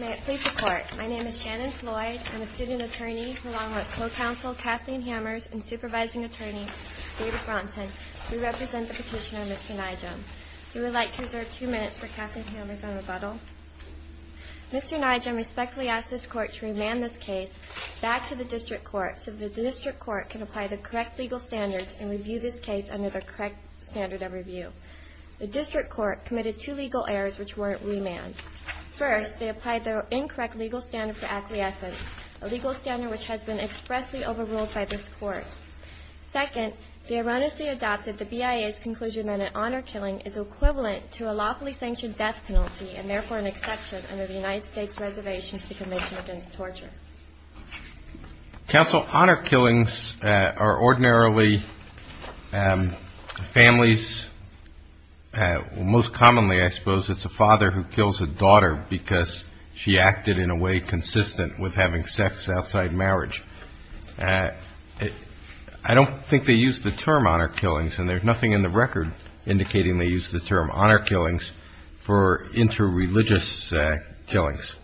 May it please the Court, my name is Shannon Floyd. I'm a student attorney along with co-counsel Kathleen Hammers and supervising attorney David Bronson. We represent the petitioner Mr. Nijem. We would like to reserve two minutes for Kathleen Hammers on rebuttal. Mr. Nijem respectfully asks this Court to remand this case back to the District Court so that the District Court can apply the correct legal standards and review this case under the correct standard of review. The District Court committed two legal errors which weren't remanded. First, they applied the incorrect legal standard for acquiescence, a legal standard which has been expressly overruled by this Court. Second, they erroneously adopted the BIA's conclusion that an honor killing is equivalent to a lawfully sanctioned death penalty and therefore an exception under the United States Reservations to the Convention Against Torture. Counsel, honor killings are ordinarily families, most commonly I suppose it's a father who kills a daughter because she acted in a way consistent with having sex outside marriage. I don't think they use the term honor killings and there's nothing in the record indicating they use the term honor killings for inter-religious killings.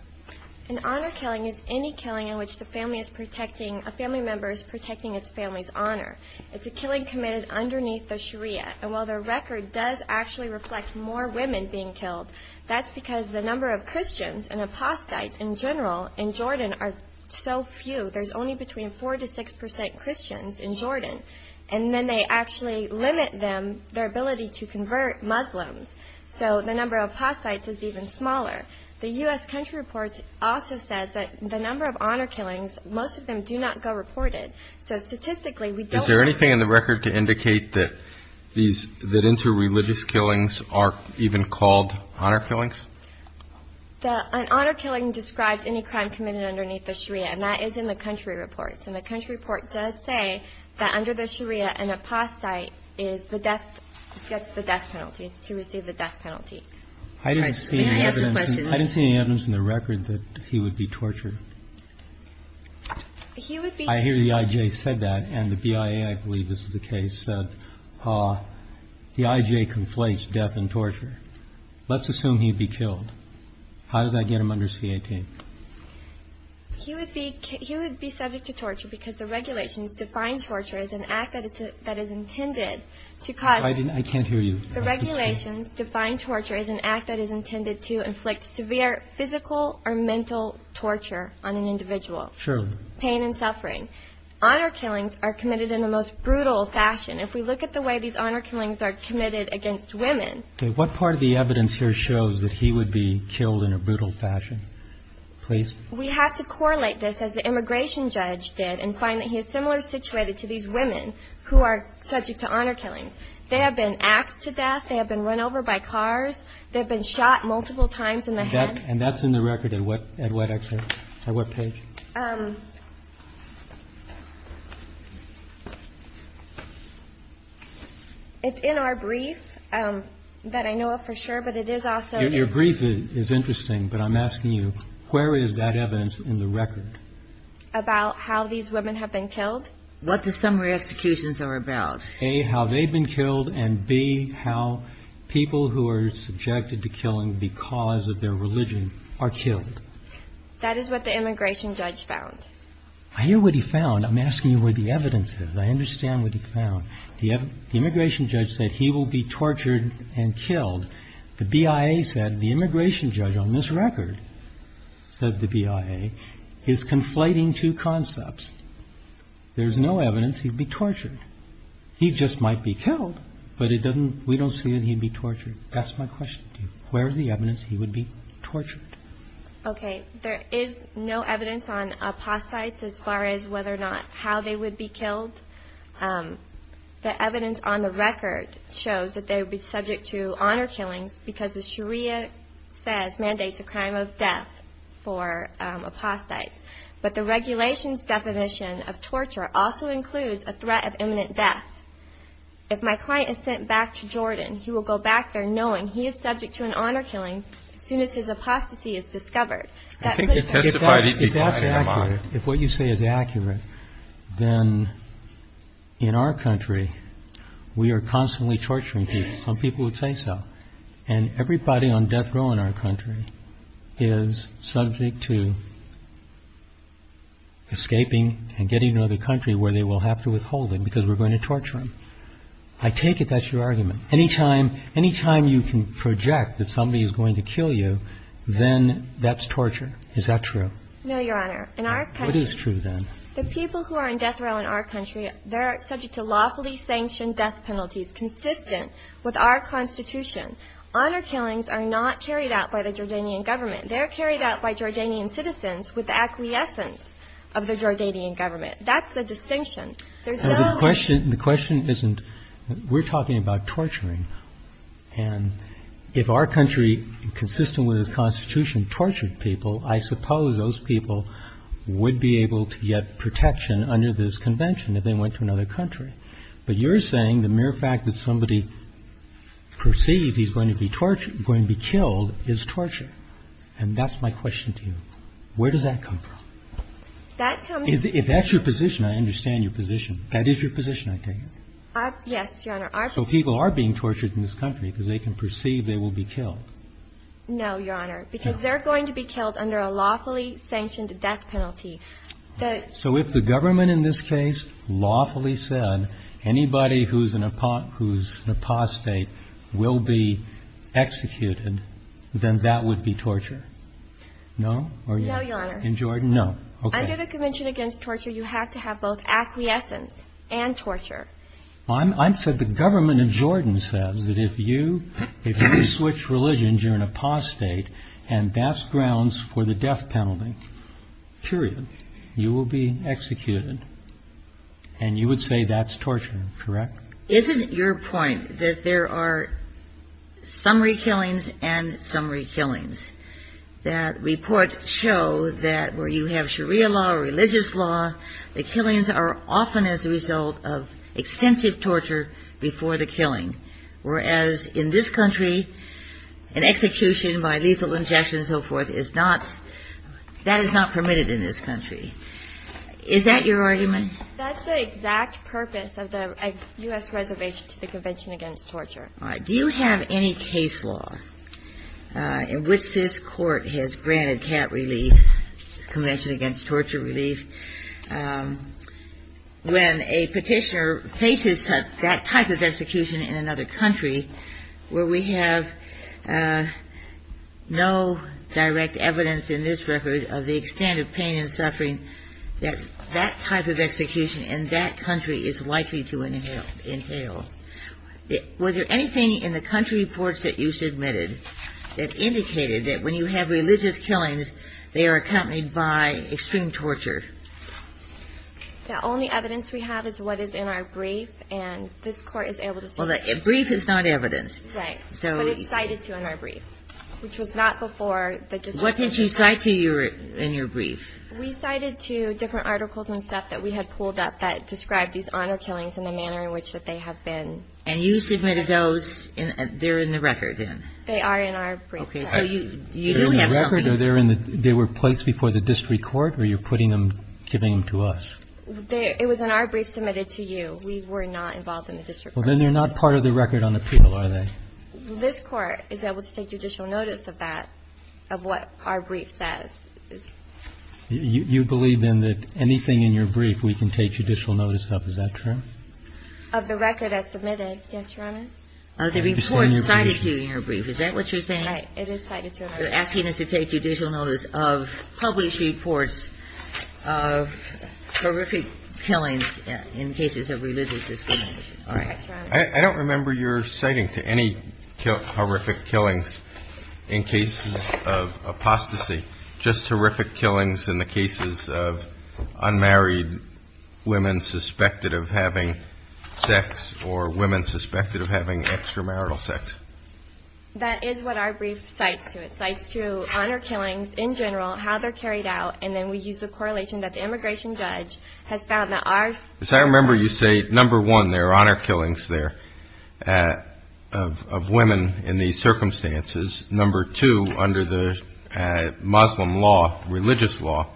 An honor killing is any killing in which the family is protecting, a family member is protecting his family's honor. It's a killing committed underneath the Sharia and while the record does actually reflect more women being killed, that's because the number of Christians and apostates in general in Jordan are so few. There's only between four to six percent Christians in Jordan and then they actually limit them, their ability to convert Muslims. So the number of apostates is even smaller. The U.S. country report also says that the number of honor killings, most of them do not go reported. So statistically we don't know. Is there anything in the record to indicate that these, that inter-religious killings are even called honor killings? An honor killing describes any crime committed underneath the Sharia and that is in the country report. So the country report does say that under the Sharia an apostate is the death, gets the death penalty, is to receive the death penalty. May I ask a question? I didn't see any evidence in the record that he would be tortured. He would be. I hear the I.J. said that and the BIA, I believe this is the case, said the I.J. conflates death and torture. Let's assume he'd be killed. How does that get him under C.A.T.? He would be subject to torture because the regulations define torture as an act that is intended to cause. I can't hear you. The regulations define torture as an act that is intended to inflict severe physical or mental torture on an individual. Sure. Pain and suffering. Honor killings are committed in the most brutal fashion. If we look at the way these honor killings are committed against women. Okay. What part of the evidence here shows that he would be killed in a brutal fashion? Please. We have to correlate this as the immigration judge did and find that he is similar situated to these women who are subject to honor killings. They have been axed to death. They have been run over by cars. They've been shot multiple times in the head. And that's in the record at what exit? At what page? It's in our brief that I know of for sure, but it is also. Your brief is interesting, but I'm asking you, where is that evidence in the record? About how these women have been killed? What the summary executions are about. A, how they've been killed, and B, how people who are subjected to killing because of their religion are killed. That is what the immigration judge found. I hear what he found. I'm asking you where the evidence is. I understand what he found. The immigration judge said he will be tortured and killed. The BIA said, the immigration judge on this record, said the BIA, is conflating two concepts. There's no evidence he'd be tortured. He just might be killed, but we don't see that he'd be tortured. That's my question to you. Where is the evidence he would be tortured? Okay. There is no evidence on apostates as far as whether or not how they would be killed. The evidence on the record shows that they would be subject to honor killings because, as Sharia says, mandates a crime of death for apostates. But the regulations deposition of torture also includes a threat of imminent death. If my client is sent back to Jordan, he will go back there knowing he is subject to an honor killing as soon as his apostasy is discovered. I think he testified he'd be killed. If that's accurate, if what you say is accurate, then in our country, we are constantly torturing people. Some people would say so. And everybody on death row in our country is subject to escaping and getting to another country where they will have to withhold it because we're going to torture them. I take it that's your argument. Any time you can project that somebody is going to kill you, then that's torture. Is that true? No, Your Honor. In our country What is true, then? The people who are on death row in our country, they're subject to lawfully sanctioned death penalties consistent with our Constitution. Honor killings are not carried out by the Jordanian government. They're carried out by Jordanian citizens with the acquiescence of the Jordanian government. That's the distinction. There's no other. The question isn't we're talking about torturing. And if our country, consistent with its Constitution, tortured people, I suppose those people would be able to get protection under this convention if they went to another country. But you're saying the mere fact that somebody perceived he's going to be killed is torture. And that's my question to you. Where does that come from? If that's your position, I understand your position. That is your position, I take it. Yes, Your Honor. So people are being tortured in this country because they can perceive they will be killed. No, Your Honor. Because they're going to be killed under a lawfully sanctioned death penalty. So if the government in this case lawfully said anybody who's an apostate will be executed, then that would be torture? No? No, Your Honor. In Jordan? No. Under the Convention Against Torture, you have to have both acquiescence and torture. I said the government of Jordan says that if you switch religions, you're an apostate, and that's grounds for the death penalty, period. You will be executed. And you would say that's torture, correct? Isn't your point that there are summary killings and summary killings? That reports show that where you have Sharia law or religious law, the killings are often as a result of extensive torture before the killing. Whereas in this country, an execution by lethal injection and so forth is not, that is not permitted in this country. Is that your argument? That's the exact purpose of the U.S. reservation to the Convention Against Torture. All right. Do you have any case law in which this Court has granted cat relief, Convention Against Torture relief, when a petitioner faces that type of execution in another country where we have no direct evidence in this record of the extent of pain and suffering that that type of execution in that country is likely to entail? Was there anything in the country reports that you submitted that indicated that when you have religious killings, they are accompanied by extreme torture? The only evidence we have is what is in our brief. And this Court is able to say that. Well, the brief is not evidence. Right. But it's cited to in our brief, which was not before. What did she cite to you in your brief? We cited to different articles and stuff that we had pulled up that described these honor killings and the manner in which that they have been. And you submitted those. They're in the record then? They are in our brief. Okay. So you do have something. They're in the record? They were placed before the district court, or you're putting them, giving them to us? It was in our brief submitted to you. We were not involved in the district court. Well, then they're not part of the record on appeal, are they? This Court is able to take judicial notice of that, of what our brief says. You believe, then, that anything in your brief we can take judicial notice of. Is that true? Of the record as submitted, yes, Your Honor. The report cited to you in your brief, is that what you're saying? Right. It is cited to us. You're asking us to take judicial notice of published reports of horrific killings in cases of religious discrimination. Correct, Your Honor. I don't remember your citing to any horrific killings in cases of apostasy, just horrific killings in the cases of unmarried women suspected of having sex or women suspected of having extramarital sex. That is what our brief cites to. It cites to honor killings in general, how they're carried out, and then we use a correlation that the immigration judge has found that ours. Because I remember you say, number one, there are honor killings there of women in these circumstances. Number two, under the Muslim law, religious law,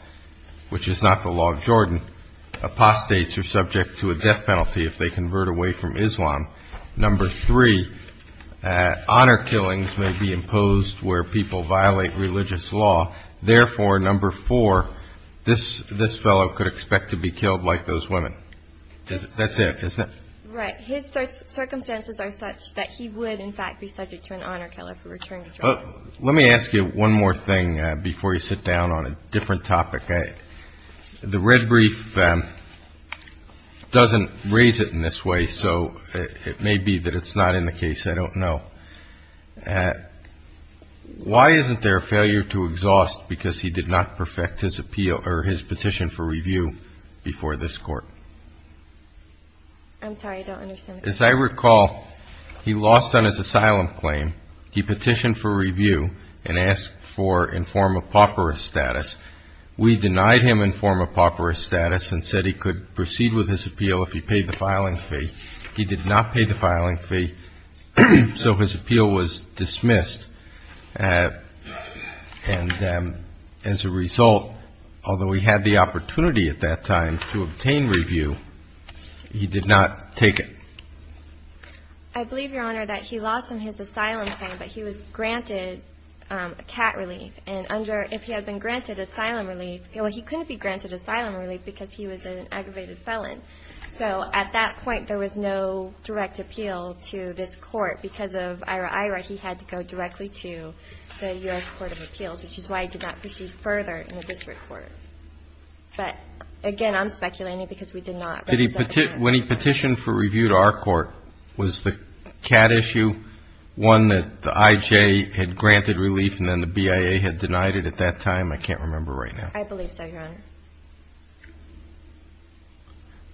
which is not the law of Jordan, apostates are subject to a death penalty if they convert away from Islam. Number three, honor killings may be imposed where people violate religious law. Therefore, number four, this fellow could expect to be killed like those women. That's it, isn't it? Right. His circumstances are such that he would, in fact, be subject to an honor killer for returning to Jordan. Let me ask you one more thing before you sit down on a different topic. The red brief doesn't raise it in this way, so it may be that it's not in the case. I don't know. Why isn't there a failure to exhaust because he did not perfect his appeal or his petition for review before this Court? I'm sorry. I don't understand. As I recall, he lost on his asylum claim. He petitioned for review and asked for informed apocryphal status. We denied him informed apocryphal status and said he could proceed with his appeal if he paid the filing fee. He did not pay the filing fee, so his appeal was dismissed. And as a result, although he had the opportunity at that time to obtain review, he did not take it. I believe, Your Honor, that he lost on his asylum claim, but he was granted a cat relief. And if he had been granted asylum relief, well, he couldn't be granted asylum relief because he was an aggravated felon. So at that point, there was no direct appeal to this Court because of IRA-IRA. He had to go directly to the U.S. Court of Appeals, which is why he did not proceed further in the district court. But, again, I'm speculating because we did not. When he petitioned for review to our court, was the cat issue one that the IJ had granted relief and then the BIA had denied it at that time? I can't remember right now. I believe so, Your Honor.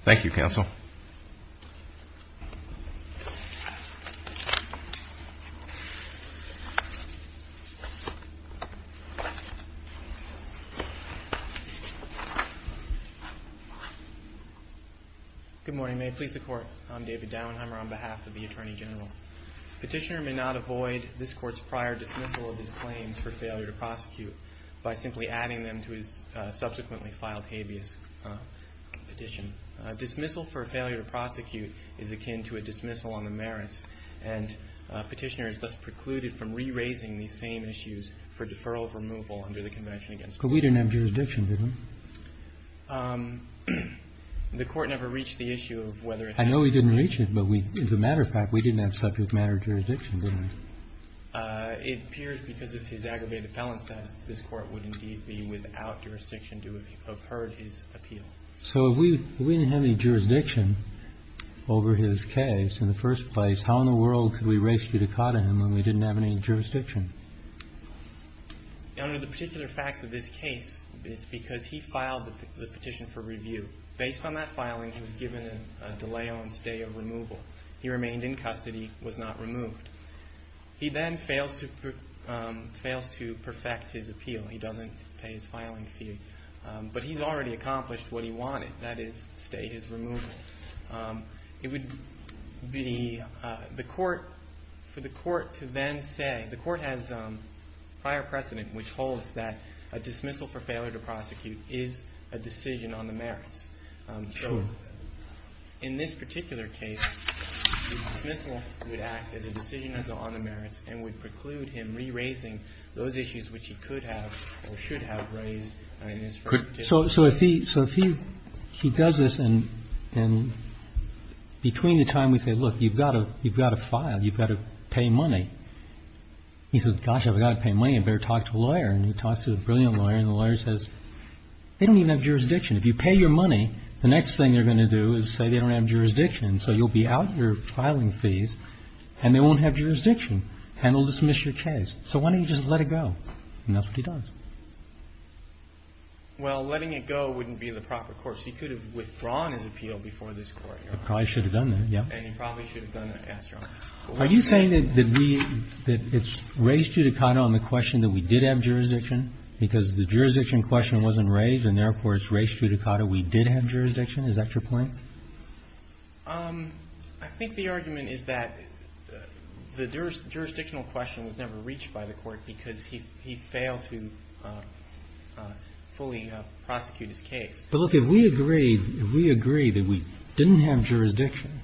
Thank you, Counsel. Good morning. May it please the Court. I'm David Dauenheimer on behalf of the Attorney General. Petitioner may not avoid this Court's prior dismissal of his claims for failure to prosecute by simply adding them to his subsequently filed habeas petition. Dismissal for failure to prosecute is akin to a dismissal on the merits, and Petitioner is thus precluded from re-raising these same issues for deferral of removal under the Convention against Violence. But we didn't have jurisdiction, did we? The Court never reached the issue of whether it had. I know we didn't reach it, but we, as a matter of fact, we didn't have subject matter jurisdiction, did we? It appears because of his aggravated felon status, this Court would indeed be without jurisdiction to have heard his appeal. So if we didn't have any jurisdiction over his case in the first place, how in the world could we raise judicata him when we didn't have any jurisdiction? Under the particular facts of this case, it's because he filed the petition for review. Based on that filing, he was given a delay on stay of removal. He remained in custody, was not removed. He then fails to perfect his appeal. He doesn't pay his filing fee. But he's already accomplished what he wanted, that is, stay his removal. It would be for the Court to then say, the Court has prior precedent which holds that a dismissal for failure to prosecute is a decision on the merits. So in this particular case, the dismissal would act as a decision on the merits and would preclude him re-raising those issues which he could have or should have raised in his first case. So if he does this, and between the time we say, look, you've got to file, you've got to pay money, he says, gosh, if I've got to pay money, I'd better talk to a lawyer. And he talks to a brilliant lawyer. And the lawyer says, they don't even have jurisdiction. If you pay your money, the next thing they're going to do is say they don't have jurisdiction. So you'll be out your filing fees, and they won't have jurisdiction, and they'll dismiss your case. So why don't you just let it go? And that's what he does. Well, letting it go wouldn't be the proper course. He could have withdrawn his appeal before this Court. He probably should have done that, yes. And he probably should have done that after all. Are you saying that we – that it's res judicata on the question that we did have jurisdiction, because the jurisdiction question wasn't raised, and therefore it's res judicata we did have jurisdiction? Is that your point? I think the argument is that the jurisdictional question was never reached by the Court because he failed to fully prosecute his case. But, look, if we agree that we didn't have jurisdiction,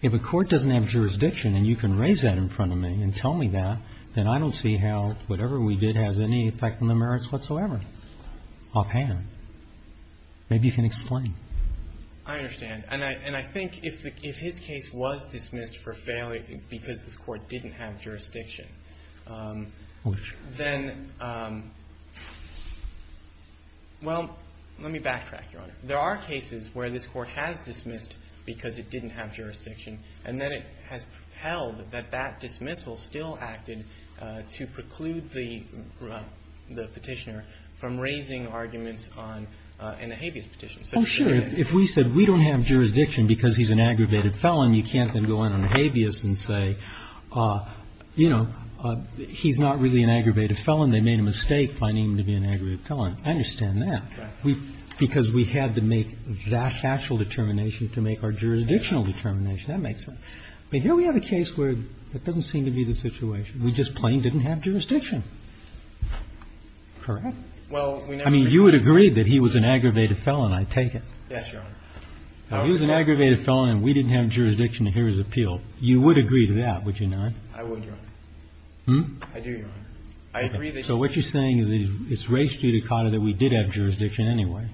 if a court doesn't have jurisdiction and you can raise that in front of me and tell me that, then I don't see how whatever we did has any effect on the merits whatsoever offhand. Maybe you can explain. I understand. And I think if his case was dismissed for failure because this Court didn't have Well, let me backtrack, Your Honor. There are cases where this Court has dismissed because it didn't have jurisdiction, and then it has held that that dismissal still acted to preclude the Petitioner from raising arguments on an ahabeus petition. Oh, sure. If we said we don't have jurisdiction because he's an aggravated felon, you can't then go in on ahabeus and say, you know, he's not really an aggravated felon. They made a mistake finding him to be an aggravated felon. I understand that. Right. Because we had to make that actual determination to make our jurisdictional determination. That makes sense. But here we have a case where that doesn't seem to be the situation. We just plain didn't have jurisdiction. Correct? Well, we never agreed. I mean, you would agree that he was an aggravated felon, I take it. Yes, Your Honor. He was an aggravated felon and we didn't have jurisdiction to hear his appeal. You would agree to that, would you not? I would, Your Honor. Hmm? I do, Your Honor. I agree that he was an aggravated felon. Okay. So what you're saying is it's raised to you, Dakota, that we did have jurisdiction anyway.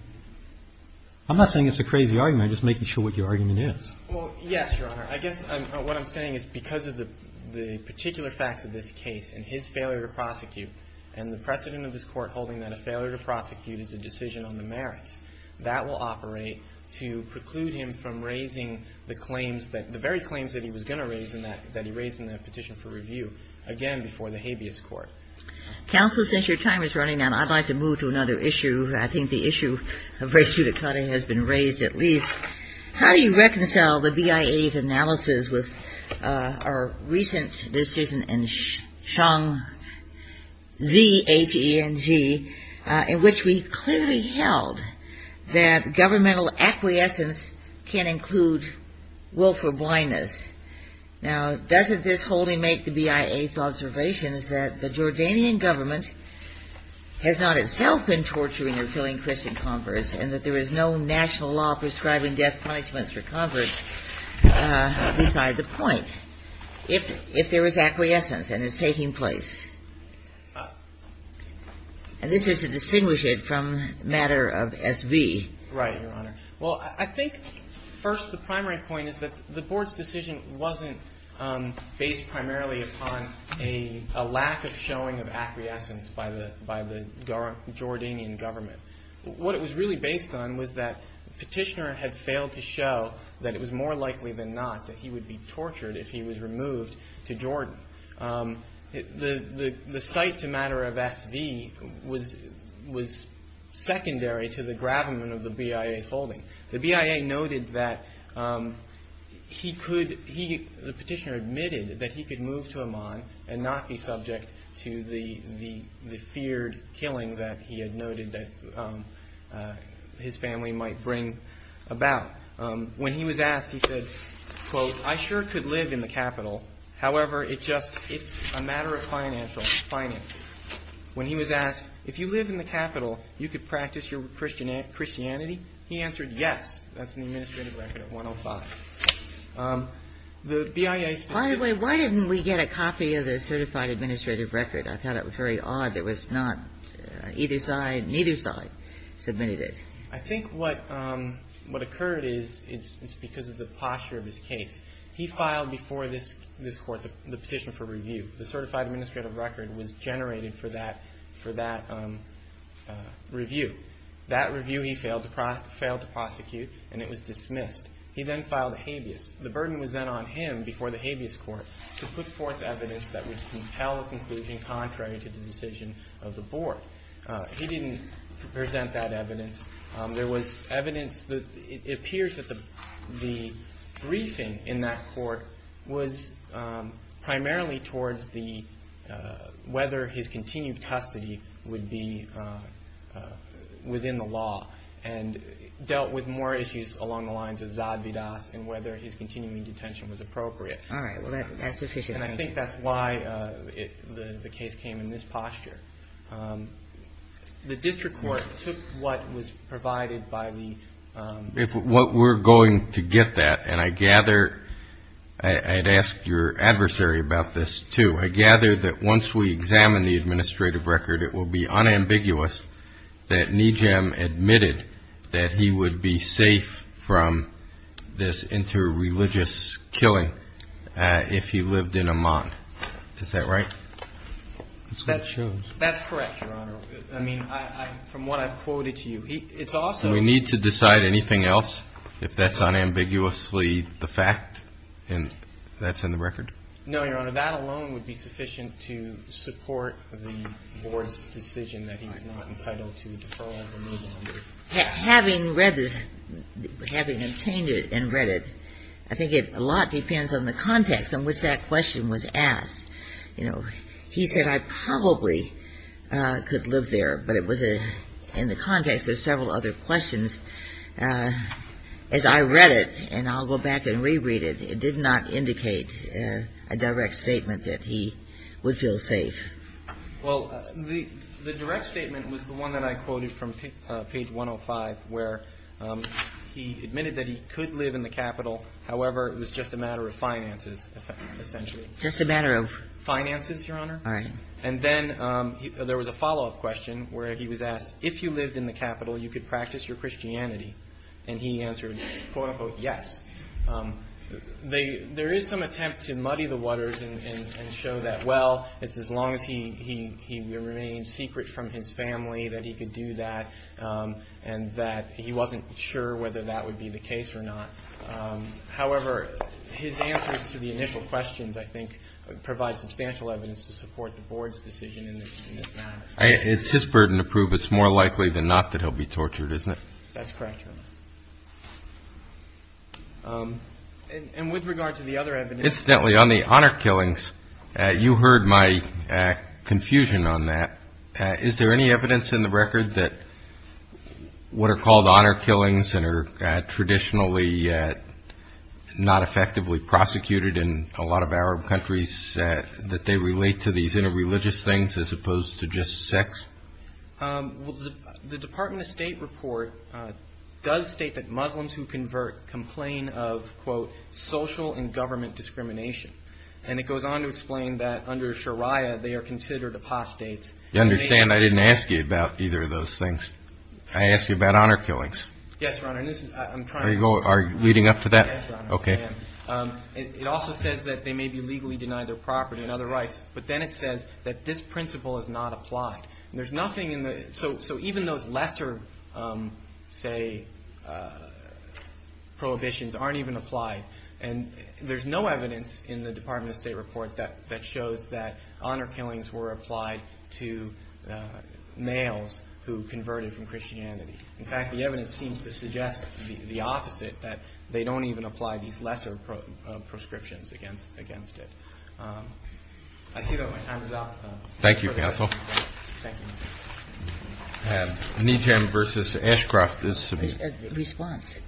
I'm not saying it's a crazy argument. I'm just making sure what your argument is. Well, yes, Your Honor. I guess what I'm saying is because of the particular facts of this case and his failure to prosecute and the precedent of this Court holding that a failure to prosecute is a decision on the merits, that will operate to preclude him from raising the claims that the very claims that he was going to raise and that he raised in the petition for review again before the habeas court. Counsel, since your time is running out, I'd like to move to another issue. I think the issue of race judicata has been raised at least. How do you reconcile the BIA's analysis with our recent decision in Xiong, Z-H-E-N-G, in which we clearly held that governmental acquiescence can include willful blindness? Now, doesn't this wholly make the BIA's observation is that the Jordanian government has not itself been torturing or killing Christian converts and that there is no national law prescribing death punishments for converts beside the point, if there is acquiescence and it's taking place? And this is to distinguish it from the matter of S.V. Right, Your Honor. Well, I think first the primary point is that the Board's decision wasn't based primarily upon a lack of showing of acquiescence by the Jordanian government. What it was really based on was that Petitioner had failed to show that it was more likely than not that he would be tortured if he was removed to Jordan. The cite to matter of S.V. was secondary to the gravamen of the BIA's holding. The BIA noted that he could, the Petitioner admitted that he could move to Amman and not be subject to the feared killing that he had noted that his family might bring about. When he was asked, he said, quote, I sure could live in the capital. However, it just, it's a matter of financial, finances. When he was asked, if you live in the capital, you could practice your Christianity? He answered, yes. That's in the administrative record at 105. The BIA's position By the way, why didn't we get a copy of the certified administrative record? I thought it was very odd. It was not, either side, neither side submitted it. I think what occurred is it's because of the posture of his case. He filed before this court the petition for review. The certified administrative record was generated for that review. That review he failed to prosecute, and it was dismissed. He then filed a habeas. The burden was then on him before the habeas court to put forth evidence that would compel a conclusion contrary to the decision of the board. He didn't present that evidence. There was evidence that it appears that the briefing in that court was primarily towards the, whether his continued custody would be within the law, and dealt with more issues along the lines of Zad Vidas and whether his continuing detention was appropriate. All right. Well, that's sufficient. And I think that's why the case came in this posture. The district court took what was provided by the We're going to get that, and I gather, I'd ask your adversary about this, too. I gather that once we examine the administrative record, it will be unambiguous that Nijam admitted that he would be safe from this interreligious killing if he lived in Amman. Is that right? That's what it shows. That's correct, Your Honor. I mean, from what I've quoted to you, it's also Do we need to decide anything else if that's unambiguously the fact and that's in the record? No, Your Honor. That alone would be sufficient to support the board's decision that he's not entitled to deferral or no longer. Having read this, having obtained it and read it, I think a lot depends on the context in which that question was asked. You know, he said, I probably could live there, but it was in the context of several other questions. As I read it, and I'll go back and reread it, it did not indicate a direct statement that he would feel safe. Well, the direct statement was the one that I quoted from page 105, where he admitted that he could live in the capital. However, it was just a matter of finances, essentially. Just a matter of? Finances, Your Honor. All right. And then there was a follow-up question where he was asked, if you lived in the capital, you could practice your Christianity. And he answered, quote, unquote, yes. There is some attempt to muddy the waters and show that, well, it's as long as he remained secret from his family that he could do that and that he wasn't sure whether that would be the case or not. However, his answers to the initial questions, I think, provide substantial evidence to support the Board's decision in this matter. It's his burden to prove. It's more likely than not that he'll be tortured, isn't it? That's correct, Your Honor. And with regard to the other evidence. Incidentally, on the honor killings, you heard my confusion on that. Is there any evidence in the record that what are called honor killings and are traditionally not effectively prosecuted in a lot of Arab countries, that they relate to these interreligious things as opposed to just sex? Well, the Department of State report does state that Muslims who convert complain of, quote, social and government discrimination. And it goes on to explain that under Sharia, they are considered apostates. You understand I didn't ask you about either of those things. I asked you about honor killings. Yes, Your Honor. Are you leading up to that? Yes, Your Honor. Okay. It also says that they may be legally denied their property and other rights. But then it says that this principle is not applied. So even those lesser, say, prohibitions aren't even applied. And there's no evidence in the Department of State report that shows that honor killings were applied to males who converted from Christianity. In fact, the evidence seems to suggest the opposite, that they don't even apply these lesser prescriptions against it. I see that my time is up. Thank you, counsel. Thank you. Nijm versus Ashcroft is submitted. Response.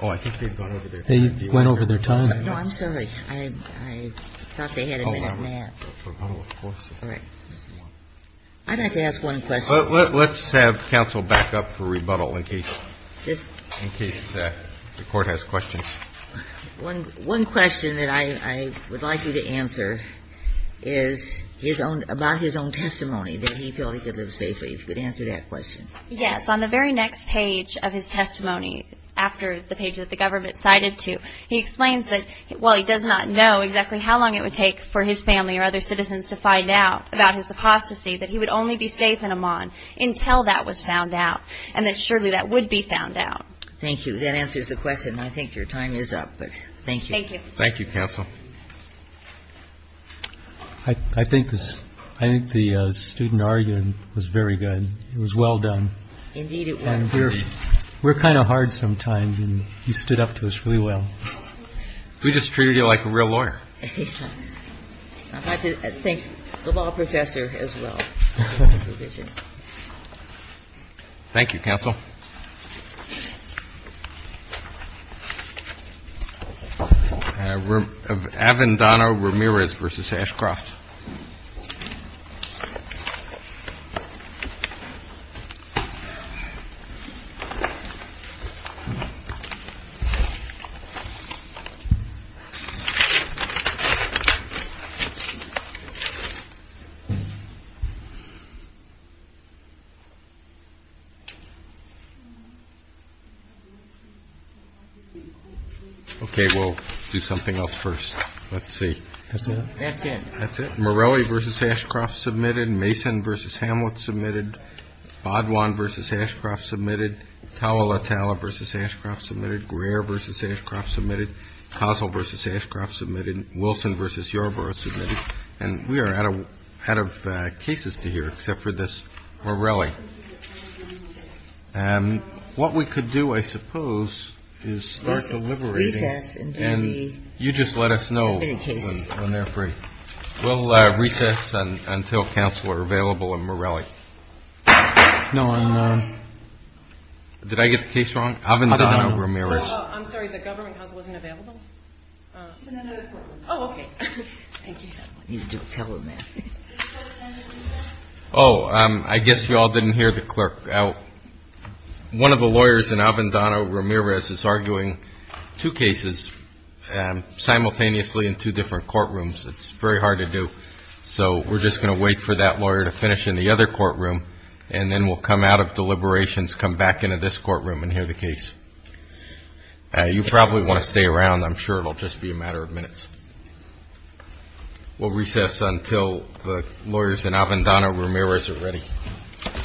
Oh, I think they've gone over their time. They went over their time. No, I'm sorry. I thought they had a minute and a half. Rebuttal, of course. All right. I'd like to ask one question. Let's have counsel back up for rebuttal in case the Court has questions. One question that I would like you to answer is about his own testimony, that he felt he could live safely, if you could answer that question. Yes. On the very next page of his testimony, after the page that the government cited to, he explains that while he does not know exactly how long it would take for his family or other citizens to find out about his apostasy, that he would only be safe in Amman until that was found out and that surely that would be found out. Thank you. That answers the question. I think your time is up, but thank you. Thank you. Thank you, counsel. I think the student argument was very good. It was well done. Indeed, it was. We're kind of hard sometimes, and you stood up to us really well. We just treated you like a real lawyer. I have to thank the law professor as well. Thank you, counsel. Avendano-Ramirez v. Ashcroft. Okay, we'll do something else first. Let's see. That's it. That's it. Morelli v. Ashcroft, submitted. Mason v. Hamlet, submitted. Baudoin v. Ashcroft, submitted. Tawilatala v. Ashcroft, submitted. Greer v. Ashcroft, submitted. Kozol v. Ashcroft, submitted. Wilson v. Yarborough, submitted. And we are out of cases to hear. Except for this Morelli. What we could do, I suppose, is start deliberating. And you just let us know when they're free. We'll recess until counsel are available on Morelli. No, I'm not. Did I get the case wrong? Avendano-Ramirez. I'm sorry. The government house wasn't available? It's in another courtroom. Oh, okay. Thank you. Oh, I guess you all didn't hear the clerk. One of the lawyers in Avendano-Ramirez is arguing two cases simultaneously in two different courtrooms. It's very hard to do. So we're just going to wait for that lawyer to finish in the other courtroom, and then we'll come out of deliberations, come back into this courtroom, and hear the case. You probably want to stay around. I'm sure it will just be a matter of minutes. We'll recess until the lawyers in Avendano-Ramirez are ready. Thank you. Thank you. Thank you.